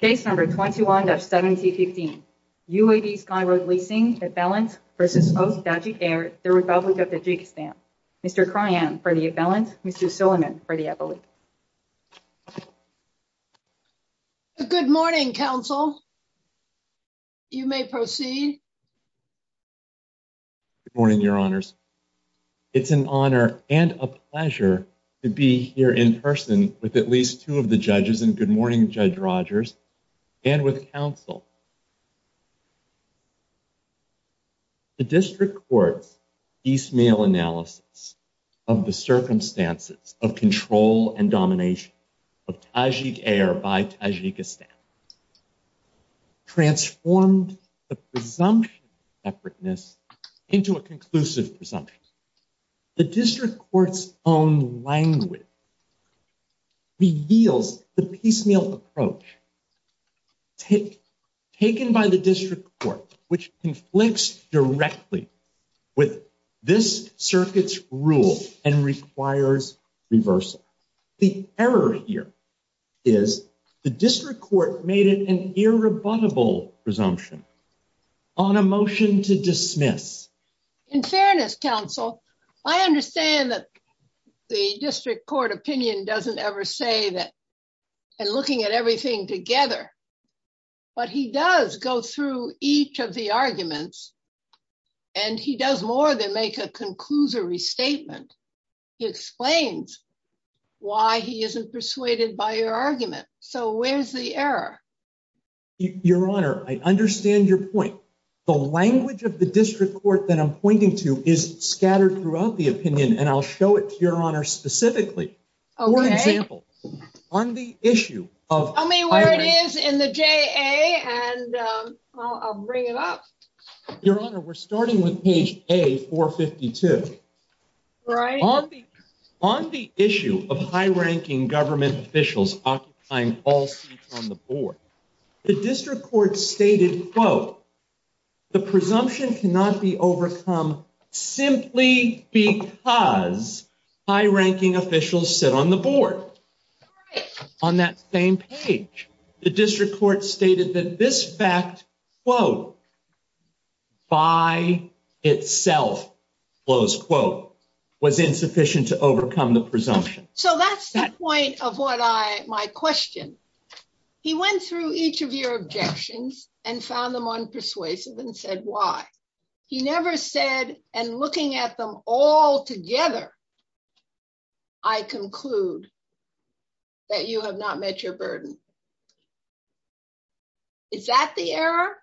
The Republic of Tajikistan. Mr. Kryan for the Affiliate, Mr. Silliman for the Affiliate. Good morning, Council. You may proceed. Good morning, Your Honors. It's an honor and a pleasure to be here in person with at least two of the judges, and good morning, Judge Rogers, and with Council. The District Court's piecemeal analysis of the circumstances of control and domination of Tajik Air by Tajikistan transformed the presumption of separateness into a conclusive presumption. The District Court's own language reveals the piecemeal approach taken by the District Court, which conflicts directly with this circuit's rule and requires reversal. The error here is the District Court made it an irrebuttable presumption on a motion to dismiss. In fairness, Council, I understand that the District Court opinion doesn't ever say that and looking at everything together, but he does go through each of the arguments and he does more than make a conclusory statement. He explains why he isn't persuaded by your argument, so where's the error? Your Honor, I understand your point. The language of the District Court that I'm pointing to is scattered throughout the opinion, and I'll show it to your Honor specifically. For example, on the issue of- Tell me where it is in the JA and I'll bring it up. Your Honor, we're starting with page A452. Right. On the issue of high-ranking government officials occupying all seats on the board, the District Court stated, quote, the presumption cannot be overcome simply because high-ranking officials sit on the board. On that same page, the District Court stated that this fact, quote, by itself, close quote, was insufficient to overcome the presumption. So that's the point of what I- my question. He went through each of your objections and found them unpersuasive and said why. He never said, and looking at them all together, I conclude that you have not met your burden. Is that the error?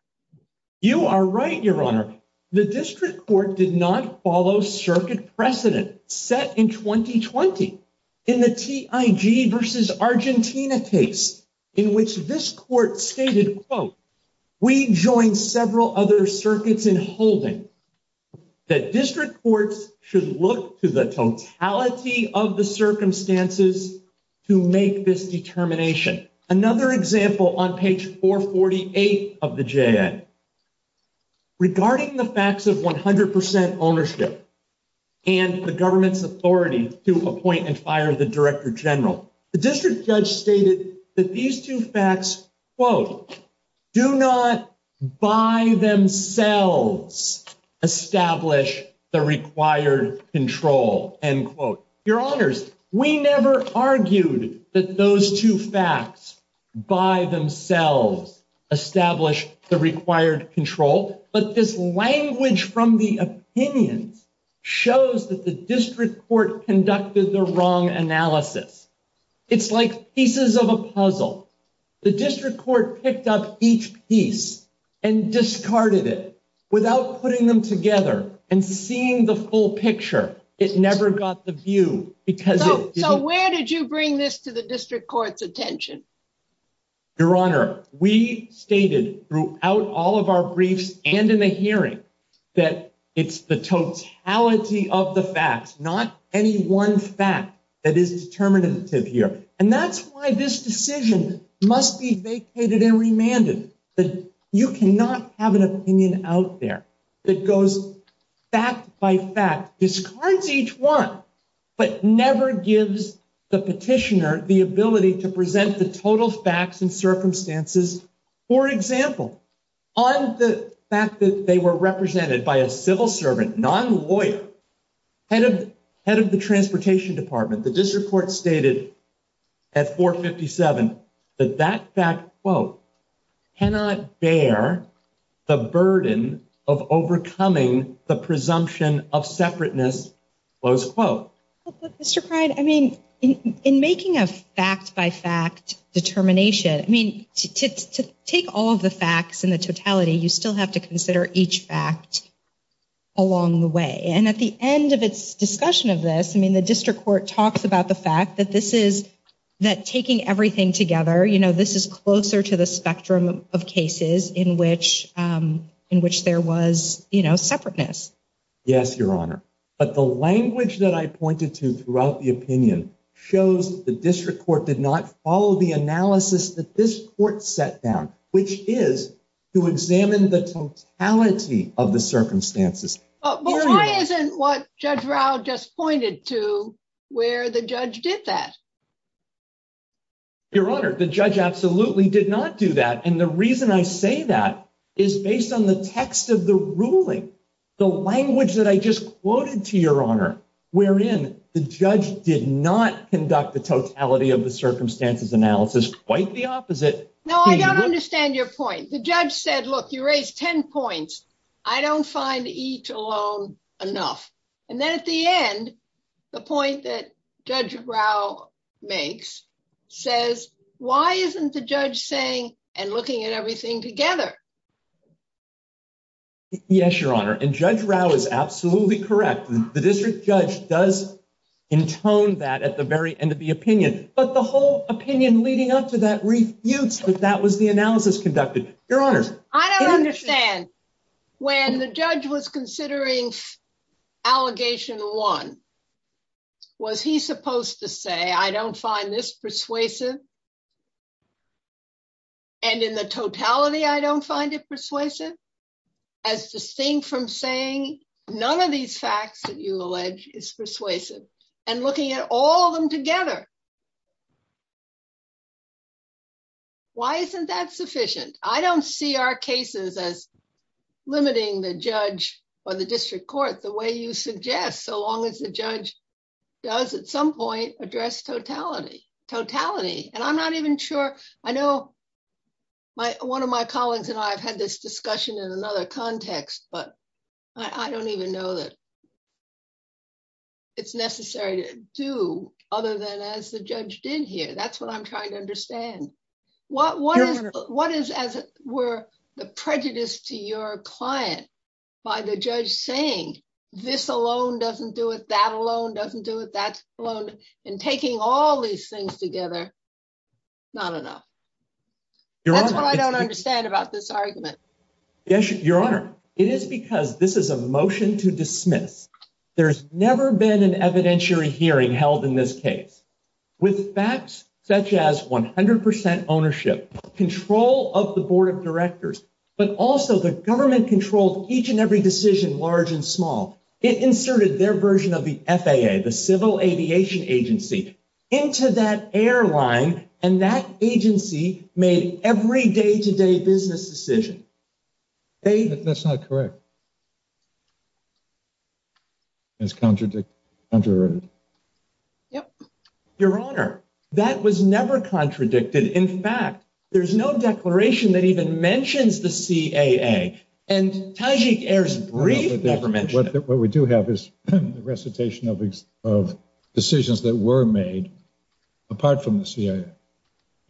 You are right, Your Honor. The District Court did not follow circuit precedent set in 2020 in the TIG versus Argentina case in which this court stated, quote, we joined several other circuits in holding that District Courts should look to the totality of circumstances to make this determination. Another example on page 448 of the JA. Regarding the facts of 100% ownership and the government's authority to appoint and fire the Director General, the District Judge stated that these two facts, quote, do not by themselves establish the required control, end quote. Your Honors, we never argued that those two facts by themselves establish the required control, but this language from the opinions shows that the District Court conducted the wrong analysis. It's like pieces of a puzzle. The District Court picked up each piece and discarded it without putting them together and seeing the full picture. It never got the view. So where did you bring this to the District Court's attention? Your Honor, we stated throughout all of our briefs and in the hearing that it's the totality of the facts, not any one fact that is determinative here. And that's why this decision must be vacated and remanded. You cannot have an opinion out there that goes fact by fact, discards each one, but never gives the petitioner the ability to present the total facts and circumstances. For example, on the fact that they were represented by a civil servant, non-lawyer, head of the Transportation Department, the District Court stated at 457 that that fact, quote, cannot bear the burden of overcoming the presumption of separateness, close quote. Mr. Pride, I mean, in making a fact by fact determination, I mean, to take all of the facts in the totality, you still have to consider each fact along the way. And at the end of its discussion of this, I mean, the District Court talks about the fact that taking everything together, this is closer to the spectrum of cases in which there was separateness. Yes, Your Honor. But the language that I pointed to throughout the opinion shows that the District Court did not follow the analysis that this court set down, which is to examine the totality of the circumstances. But why isn't what Judge Rao just pointed to where the judge did that? Your Honor, the judge absolutely did not do that. And the reason I say that is based on the text of the ruling, the language that I just quoted to Your Honor, wherein the judge did not conduct the totality of the circumstances analysis, quite the opposite. No, I don't understand your point. The judge said, look, you raised 10 points. I don't find each alone enough. And then at the end, the point that Judge Rao makes says, why isn't the judge saying and looking at everything together? Yes, Your Honor. And Judge Rao is absolutely correct. The district judge does intone that at the very end of the opinion. But the whole opinion leading up to that refutes that that was the analysis conducted. Your Honor. I don't understand. When the judge was considering Allegation 1, was he supposed to say, I don't find this persuasive? And in the totality, I don't find it persuasive? As distinct from saying, none of these facts that you allege is persuasive, and looking at all of them together. Why isn't that sufficient? I don't see our cases as limiting the judge or the district court the way you suggest so long as the judge does at some point address totality. Totality and I'm not even sure. I know one of my colleagues and I've had this discussion in another context, but I don't even know that it's necessary to do other than as the judge did here. That's what I'm trying to understand. What is, as it were, the prejudice to your client by the judge saying, this alone doesn't do it, that alone doesn't do it, that alone, and taking all these things together, not enough. That's what I don't understand about this argument. Your Honor, it is because this is a motion to dismiss. There's never been an evidentiary hearing held in this case. With facts such as 100% ownership, control of the board of directors, but also the government controlled each and every decision, large and small, it inserted their version of the FAA, the Civil Aviation Agency, into that airline and that agency made every day-to-day business decision. That's not correct. It's contradictory. Your Honor, that was never contradicted. In fact, there's no declaration that even mentions the CAA and Tajik Air's brief never mentioned it. What we do have is the recitation of decisions that were made apart from the CAA.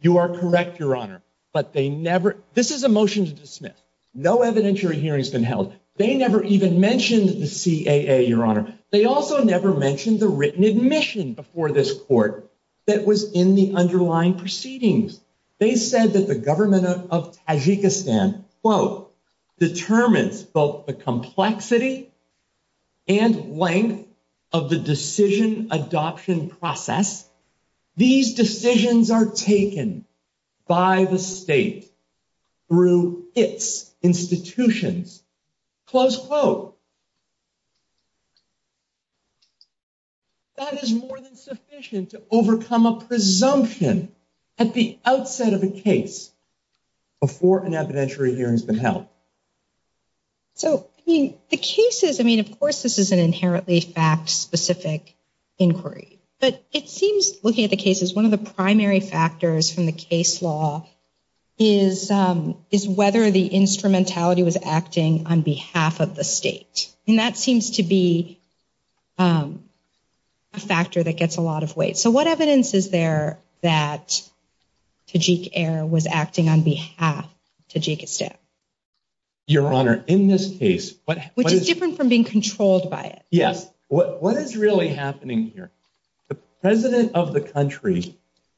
You are correct, Your Honor, but they never, this is a motion to dismiss. No evidentiary hearing has been held. They never even mentioned the CAA, Your Honor. They also never mentioned the written admission before this court that was in the underlying proceedings. They said that the government of Tajikistan, quote, determines both the complexity and length of the decision adoption process. These decisions are taken by the state through its institutions, close quote. That is more than sufficient to overcome a presumption at the outset of a case before an evidentiary hearing has been held. So, I mean, the cases, I mean, of course, this is an inherently fact-specific inquiry, but it seems looking at the cases, one of the primary factors from the case law is whether the instrumentality was acting on behalf of the state. And that seems to be a factor that gets a lot of weight. So what evidence is there that Tajik Air was acting on behalf of Tajikistan? Your Honor, in this case, what... Which is different from being controlled by it. Yes. What is really happening here? The president of the country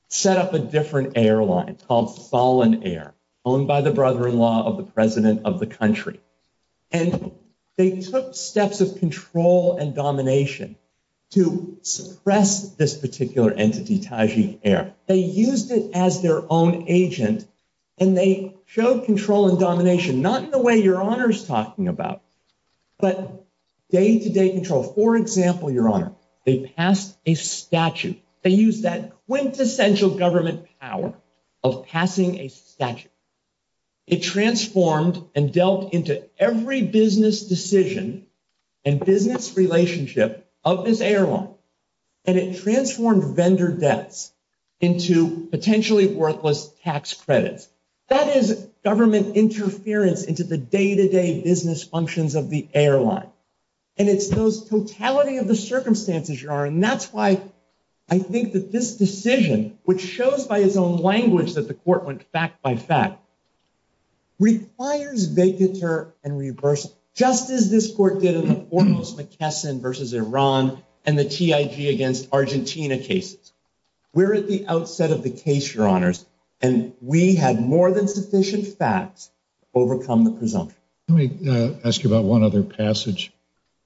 set up a different airline called Fallon Air owned by the brother-in-law of the president of the country. And they took steps of control and domination to suppress this particular entity, Tajik Air. They used it as their own agent and they showed control and domination, not in the way Your Honor is talking about, but day-to-day control. For example, Your Honor, they passed a statute. They used that quintessential government power of passing a statute. It transformed and dealt into every business decision and business relationship of this airline. And it transformed vendor debts into potentially worthless tax credits. That is government interference into the day-to-day business functions of the airline. And it's those totality of the circumstances, Your Honor. And that's why I think that this decision, which shows by its own language that the court went fact by fact, requires vacatur and reversal, just as this court did in the foremost McKesson versus Iran and the TIG against Argentina cases. We're at the outset of the case, Your Honors, and we had more than sufficient facts to overcome the presumption. Let me ask you about one other passage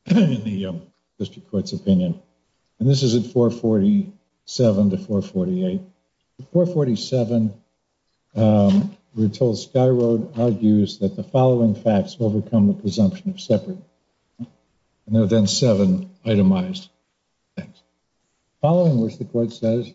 in the district court's opinion. And this is at 447 to 448. At 447, we're told Skyroad argues that the following facts overcome the presumption of separate. And there are then seven itemized things. Following which, the court says,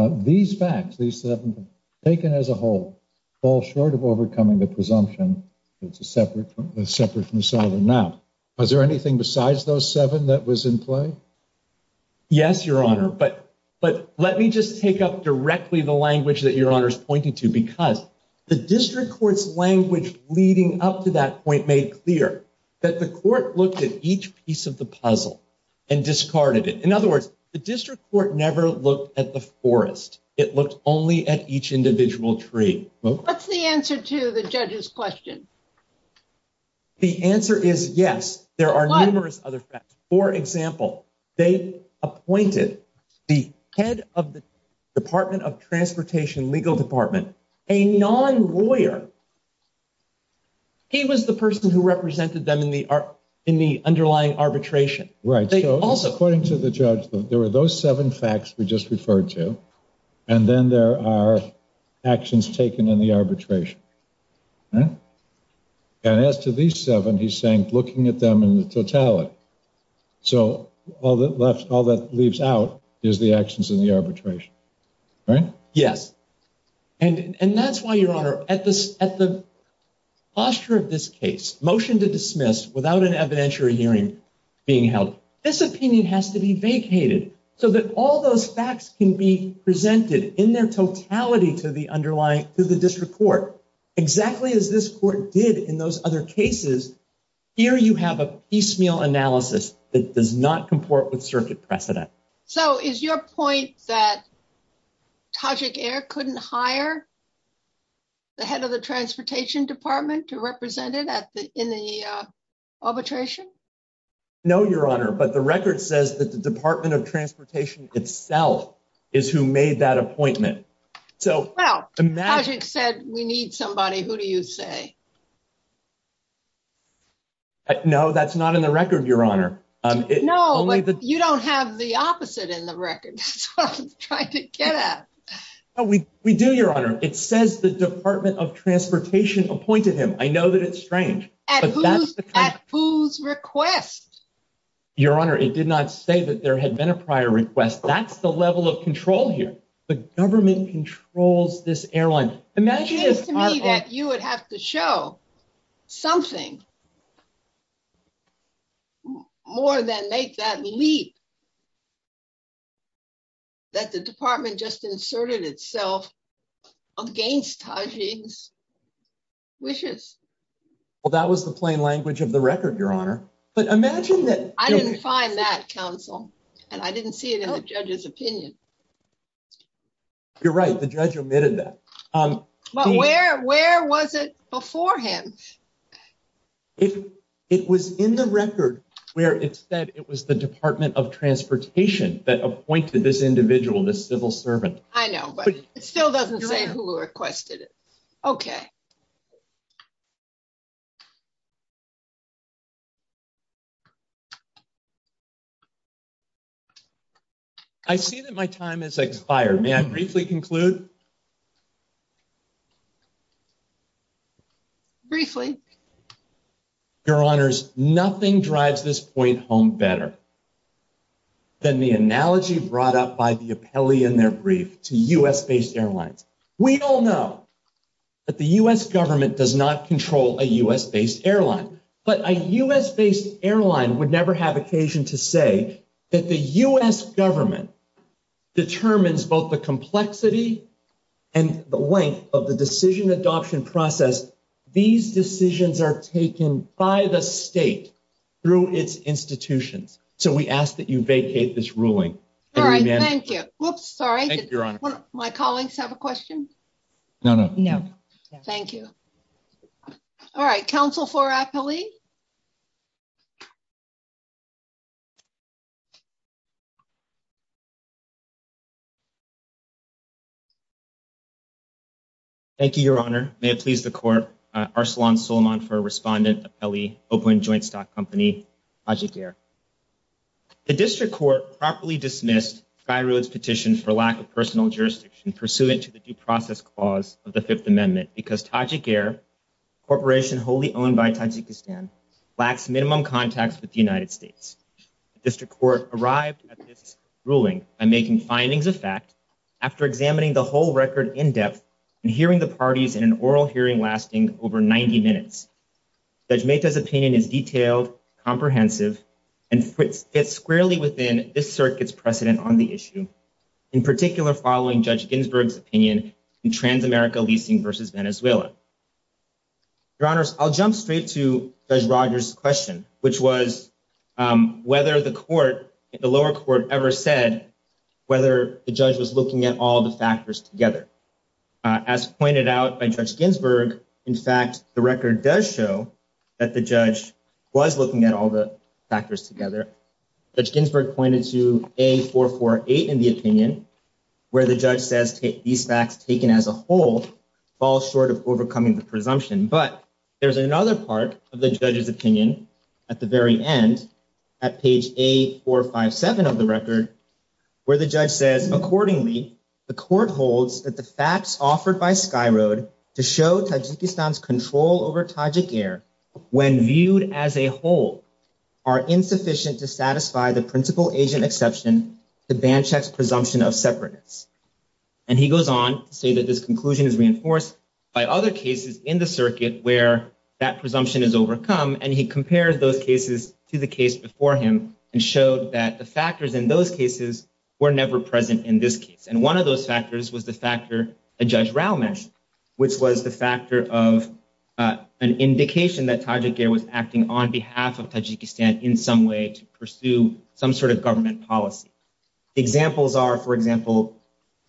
these facts, these seven, taken as a whole, fall short of overcoming the presumption that it's separate from the sovereign now. Was there anything besides those seven that was in play? Yes, Your Honor. But let me just take up directly the language that Your Honor is pointing to, because the district court's language leading up to that point made clear that the court looked at each piece of the puzzle and discarded it. In other words, the district court never looked at the forest. It looked only at each individual tree. What's the answer to the judge's question? The answer is yes. There are numerous other facts. For example, they appointed the head of the Department of Transportation legal department, a non-lawyer. He was the person who represented them in the underlying arbitration. Right. So, according to the judge, there were those seven facts we just referred to. And then there are actions taken in the arbitration. Right. And as to these seven, he's saying looking at them in the totality. So, all that leaves out is the actions in the arbitration. Right? Yes. And that's why, Your Honor, at the posture of this case, motion to dismiss without an evidentiary hearing being held, this opinion has to be vacated so that all those facts can be presented in their totality to the district court, exactly as this court did in those other cases. Here, you have a piecemeal analysis that does not comport with circuit precedent. So, is your point that Tajik Air couldn't hire the head of the Transportation Department to represent it in the arbitration? No, Your Honor. But the record says that the Department of Transportation itself is who made that appointment. So, Tajik said we need somebody. Who do you say? No, that's not in the record, Your Honor. No, but you don't have the opposite in the record. That's what I'm trying to get at. We do, Your Honor. It says the Department of Transportation appointed him. I know that it's strange. At whose request? Your Honor, it did not say that there had been a prior request. That's the level of control here. The government controls this airline. It seems to me that you would have to show something more than make that leap that the Department just inserted itself against Tajik's wishes. Well, that was the plain language of the record, Your Honor. But imagine that... I didn't find that, counsel. And I didn't see it in the judge's opinion. You're right. The judge omitted that. But where was it before him? It was in the record where it said it was the Department of Transportation that appointed this individual, this civil servant. I know, but it still doesn't say who requested it. Okay. I see that my time has expired. May I briefly conclude? Briefly. Your Honors, nothing drives this point home better than the analogy brought up by the appellee in their brief to U.S.-based airlines. We all know that the U.S. government does not control a U.S.-based airline. But a U.S.-based airline would never have occasion to say that the U.S. government determines both the complexity and the length of the decision adoption process. These decisions are taken by the state through its institutions. So we ask that you vacate this ruling. All right. Thank you. Whoops. Sorry. Thank you, Your Honor. My colleagues have a question? No, no. No. Thank you. All right. Counsel for appellee. Thank you, Your Honor. May it please the court. Arsalan Suleman for Respondent, Appellee, Oakland Joint Stock Company, Taja Gair. The District Court properly dismissed SkyRoad's petition for lack of personal jurisdiction pursuant to the due process clause of the Fifth Amendment because Taja Gair, a corporation wholly owned by Tajikistan, lacks minimum contacts with the United States. The District Court arrived at this ruling by making findings of fact after examining the whole record in depth and hearing the parties in an oral hearing lasting over 90 minutes. Judge Mehta's opinion is detailed, comprehensive, and fits squarely within this circuit's precedent on the issue, in particular following Judge Ginsburg's opinion in Transamerica leasing versus Venezuela. Your Honors, I'll jump straight to Judge Rogers' question, which was whether the lower court ever said whether the judge was looking at all the factors together. As pointed out by Judge Ginsburg, in fact, the record does show that the judge was looking at all the factors together. Judge Ginsburg pointed to A448 in the opinion, where the judge says these facts taken as a whole fall short of overcoming the presumption. But there's another part of the judge's opinion at the very end, at page A457 of the record, where the judge says, accordingly, the court holds that the facts offered by SkyRoad to show Tajikistan's control over Taja Gair, when viewed as a whole, are insufficient to satisfy the principal agent exception to Banchak's presumption of separateness. And he goes on to say that this conclusion is reinforced by other cases in the circuit where that presumption is overcome. And he compared those cases to the case before him and showed that the factors in those cases were never present in this case. And one of those factors was the factor a judge Rao mentioned, which was the factor of an indication that Taja Gair was acting on behalf of Tajikistan in some way to pursue some sort of government policy. Examples are, for example,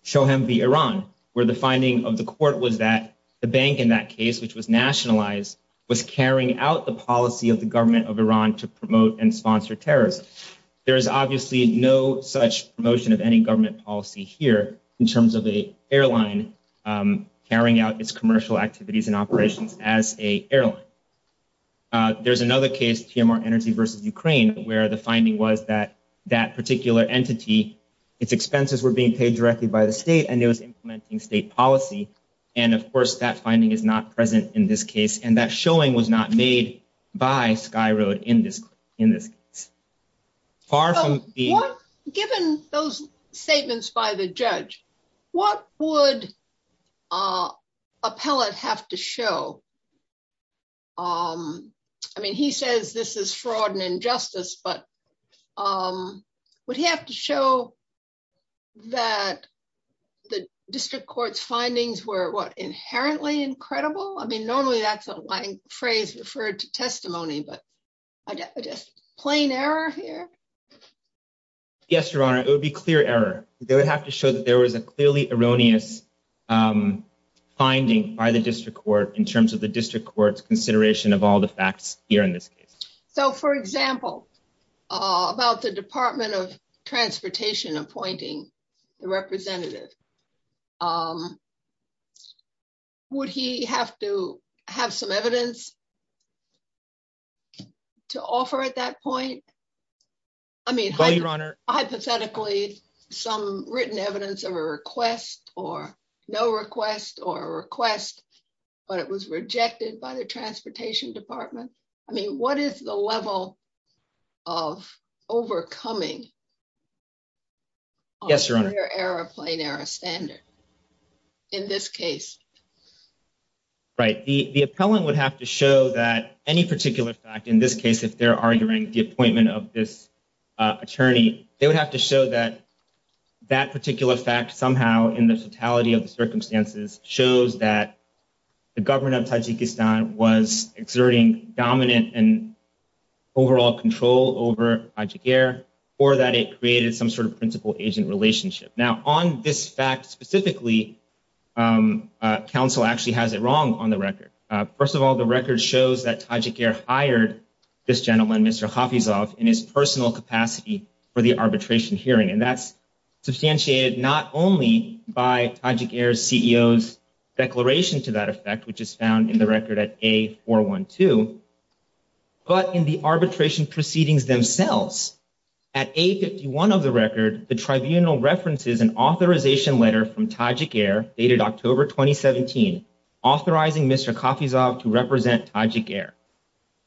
Shoham v. Iran, where the finding of the court was that the bank in that case, which was nationalized, was carrying out the policy of the government of Iran to promote and sponsor terrorism. There is obviously no such promotion of any government policy here in terms of a airline carrying out its commercial activities and operations as a airline. There's another case, PMR Energy v. Ukraine, where the finding was that that particular entity, its expenses were being paid directly by the state and it was implementing state policy. And of course, that finding is not present in this case. And that showing was not made by SkyRoad in this case. Given those statements by the judge, what would a appellate have to show? I mean, he says this is fraud and injustice, but would he have to show that the district court's findings were what, inherently incredible? I mean, normally that's a phrase referred to testimony, but I guess plain error here? Yes, Your Honor, it would be clear error. They would have to show that there was a clearly erroneous finding by the district court in terms of the district court's consideration of all the facts here in this case. So for example, about the Department of Transportation appointing the representative, would he have to have some evidence to offer at that point? I mean, hypothetically, some written evidence of a request or no request or a request, but it was rejected by the Transportation Department. I mean, what is the level of overcoming? Yes, Your Honor. Clear error, plain error standard in this case? Right, the appellant would have to show that any particular fact, in this case, if they're arguing the appointment of this attorney, they would have to show that that particular fact somehow in the totality of the circumstances shows that the government of Tajikistan was exerting dominant and overall control over Tajik Air, or that it created some sort of principal agent relationship. Now on this fact specifically, counsel actually has it wrong on the record. First of all, the record shows that Tajik Air hired this gentleman, Mr. Khafizov, in his personal capacity for the arbitration hearing. And that's substantiated, not only by Tajik Air's CEO's declaration to that effect, which is found in the record at A412, but in the arbitration proceedings themselves. At A51 of the record, the tribunal references an authorization letter from Tajik Air dated October, 2017, authorizing Mr. Khafizov to represent Tajik Air.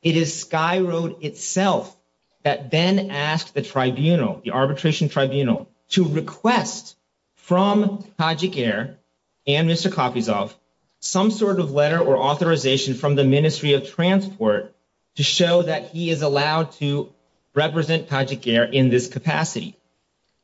It is Sky Road itself that then asked the tribunal, the arbitration tribunal, to request from Tajik Air and Mr. Khafizov some sort of letter or authorization from the Ministry of Transport to show that he is allowed to represent Tajik Air in this capacity.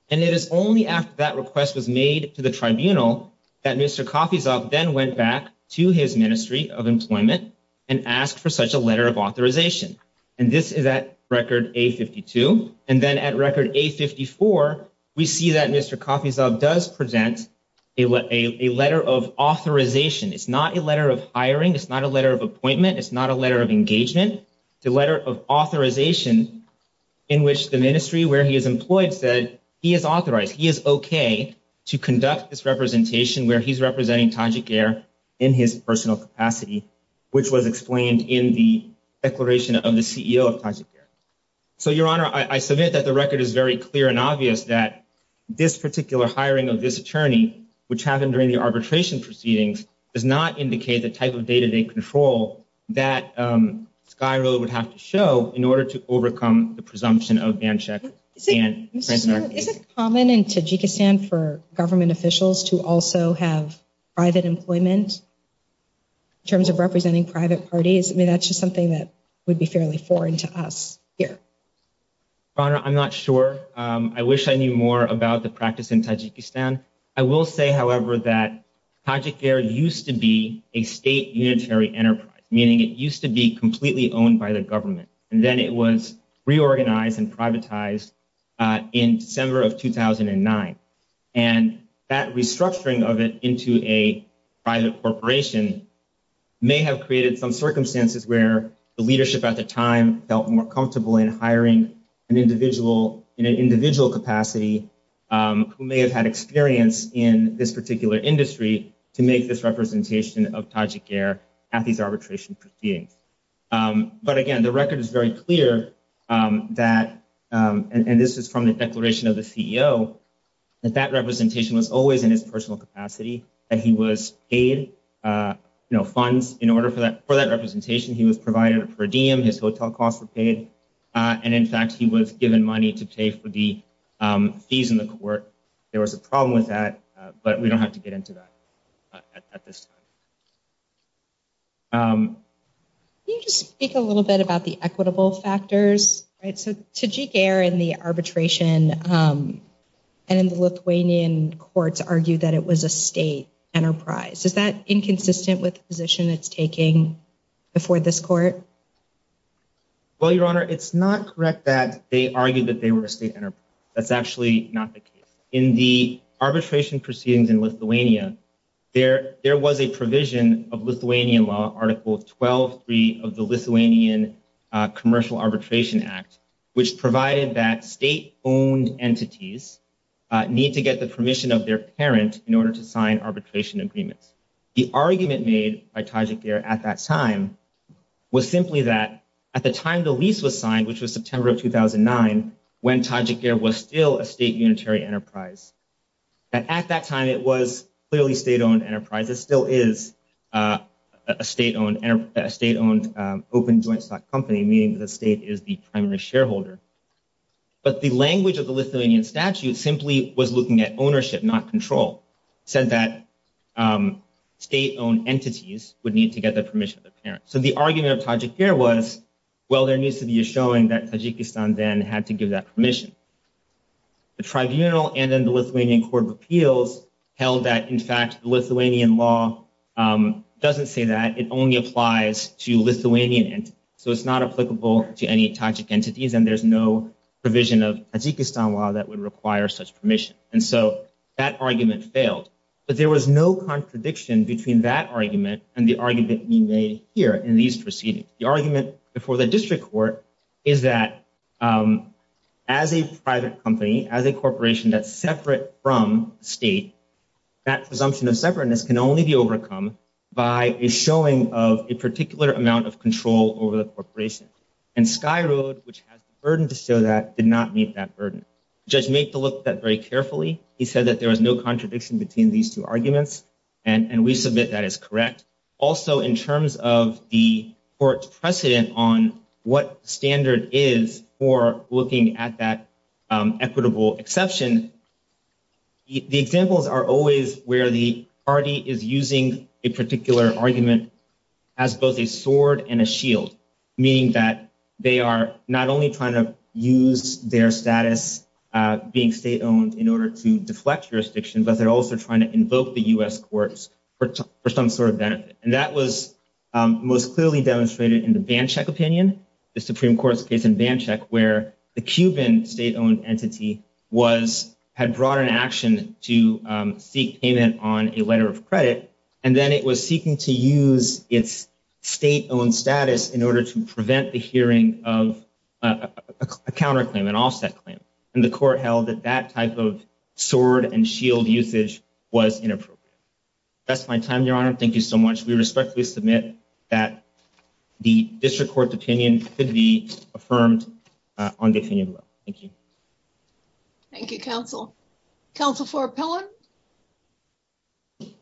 And it is only after that request was made to the tribunal that Mr. Khafizov then went back to his Ministry of Employment and asked for such a letter of authorization. And this is at record A52. And then at record A54, we see that Mr. Khafizov does present a letter of authorization. It's not a letter of hiring. It's not a letter of appointment. It's not a letter of engagement. The letter of authorization in which the ministry where he is employed said he is authorized, he is okay to conduct this representation where he's representing Tajik Air in his personal capacity, which was explained in the declaration of the CEO of Tajik Air. So, Your Honor, I submit that the record is very clear and obvious that this particular hiring of this attorney, which happened during the arbitration proceedings, does not indicate the type of day-to-day control that Sky Row would have to show in order to overcome the presumption of ban check. Is it common in Tajikistan for government officials to also have private employment in terms of representing private parties? I mean, that's just something that would be fairly foreign to us. Yeah. Your Honor, I'm not sure. I wish I knew more about the practice in Tajikistan. I will say, however, that Tajik Air used to be a state unitary enterprise, meaning it used to be completely owned by the government. And then it was reorganized and privatized in December of 2009. And that restructuring of it into a private corporation may have created some circumstances where the leadership at the time felt more comfortable in hiring an individual in an individual capacity who may have had experience in this particular industry to make this representation of Tajik Air at these arbitration proceedings. But again, the record is very clear that, and this is from the declaration of the CEO, that that representation was always in his personal capacity that he was paid, you know, he was provided a per diem, his hotel costs were paid. And in fact, he was given money to pay for the fees in the court. There was a problem with that, but we don't have to get into that at this time. Can you just speak a little bit about the equitable factors, right? So Tajik Air in the arbitration and in the Lithuanian courts argued that it was a state enterprise. Is that inconsistent with the position it's taking before this court? Well, Your Honor, it's not correct that they argued that they were a state enterprise. That's actually not the case. In the arbitration proceedings in Lithuania, there was a provision of Lithuanian law, Article 12.3 of the Lithuanian Commercial Arbitration Act, which provided that state-owned entities need to get the permission of their parent in order to sign arbitration agreements. The argument made by Tajik Air at that time was simply that at the time the lease was signed, which was September of 2009, when Tajik Air was still a state unitary enterprise. And at that time, it was clearly state-owned enterprise. It still is a state-owned open joint stock company, meaning the state is the primary shareholder. But the language of the Lithuanian statute simply was looking at ownership, not control. Said that state-owned entities would need to get the permission of their parents. So the argument of Tajik Air was, well, there needs to be a showing that Tajikistan then had to give that permission. The tribunal and then the Lithuanian Court of Appeals held that, in fact, the Lithuanian law doesn't say that. It only applies to Lithuanian entities. So it's not applicable to any Tajik entities and there's no provision of Tajikistan law that would require such permission. And so that argument failed. But there was no contradiction between that argument and the argument we made here in these proceedings. The argument before the district court is that as a private company, as a corporation that's separate from state, that presumption of separateness can only be overcome by a showing of a particular amount of control over the corporation. And SkyRoad, which has the burden to show that, did not meet that burden. Judge made the look at that very carefully. He said that there was no contradiction between these two arguments. And we submit that as correct. Also, in terms of the court's precedent on what standard is for looking at that equitable exception, the examples are always where the party is using a particular argument as both a sword and a shield, meaning that they are not only trying to use their status being state-owned in order to deflect jurisdictions, but they're also trying to invoke the U.S. courts for some sort of benefit. And that was most clearly demonstrated in the Banchuk opinion, the Supreme Court's case in Banchuk where the Cuban state-owned entity had brought an action to seek payment on a letter of credit. And then it was seeking to use its state-owned status in order to prevent the hearing of a counterclaim, an offset claim. And the court held that that type of sword and shield usage was inappropriate. That's my time, Your Honor. Thank you so much. We respectfully submit that the district court's opinion could be affirmed on the opinion bill. Thank you. Thank you, counsel. Counsel for Appellant. Thank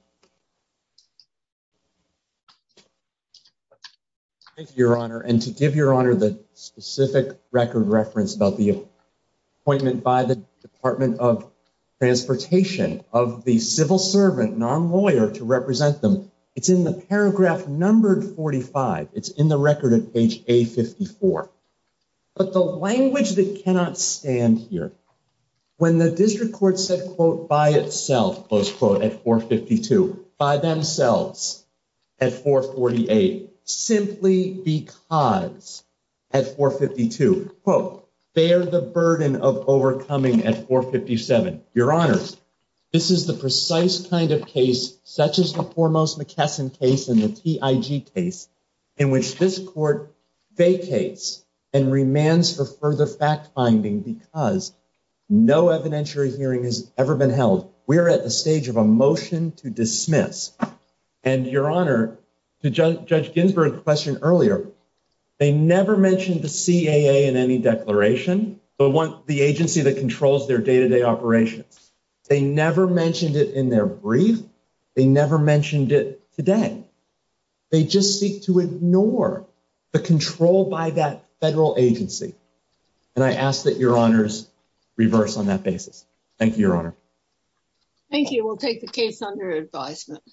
you, Your Honor. And to give Your Honor the specific record reference about the appointment by the Department of Transportation of the civil servant, non-lawyer, to represent them, it's in the paragraph numbered 45. It's in the record at page A54. But the language that cannot stand here, when the district court said, quote, by its sole authority, close quote, at 452. By themselves at 448. Simply because at 452, quote, bear the burden of overcoming at 457. Your Honors, this is the precise kind of case, such as the foremost McKesson case and the TIG case, in which this court vacates and remands for further fact-finding because no evidentiary hearing has ever been held. We're at the stage of a motion to dismiss. And Your Honor, to Judge Ginsburg's question earlier, they never mentioned the CAA in any declaration, but the agency that controls their day-to-day operations. They never mentioned it in their brief. They never mentioned it today. They just seek to ignore the control by that federal agency. And I ask that Your Honors reverse on that basis. Thank you, Your Honor. Thank you. We'll take the case under advisement.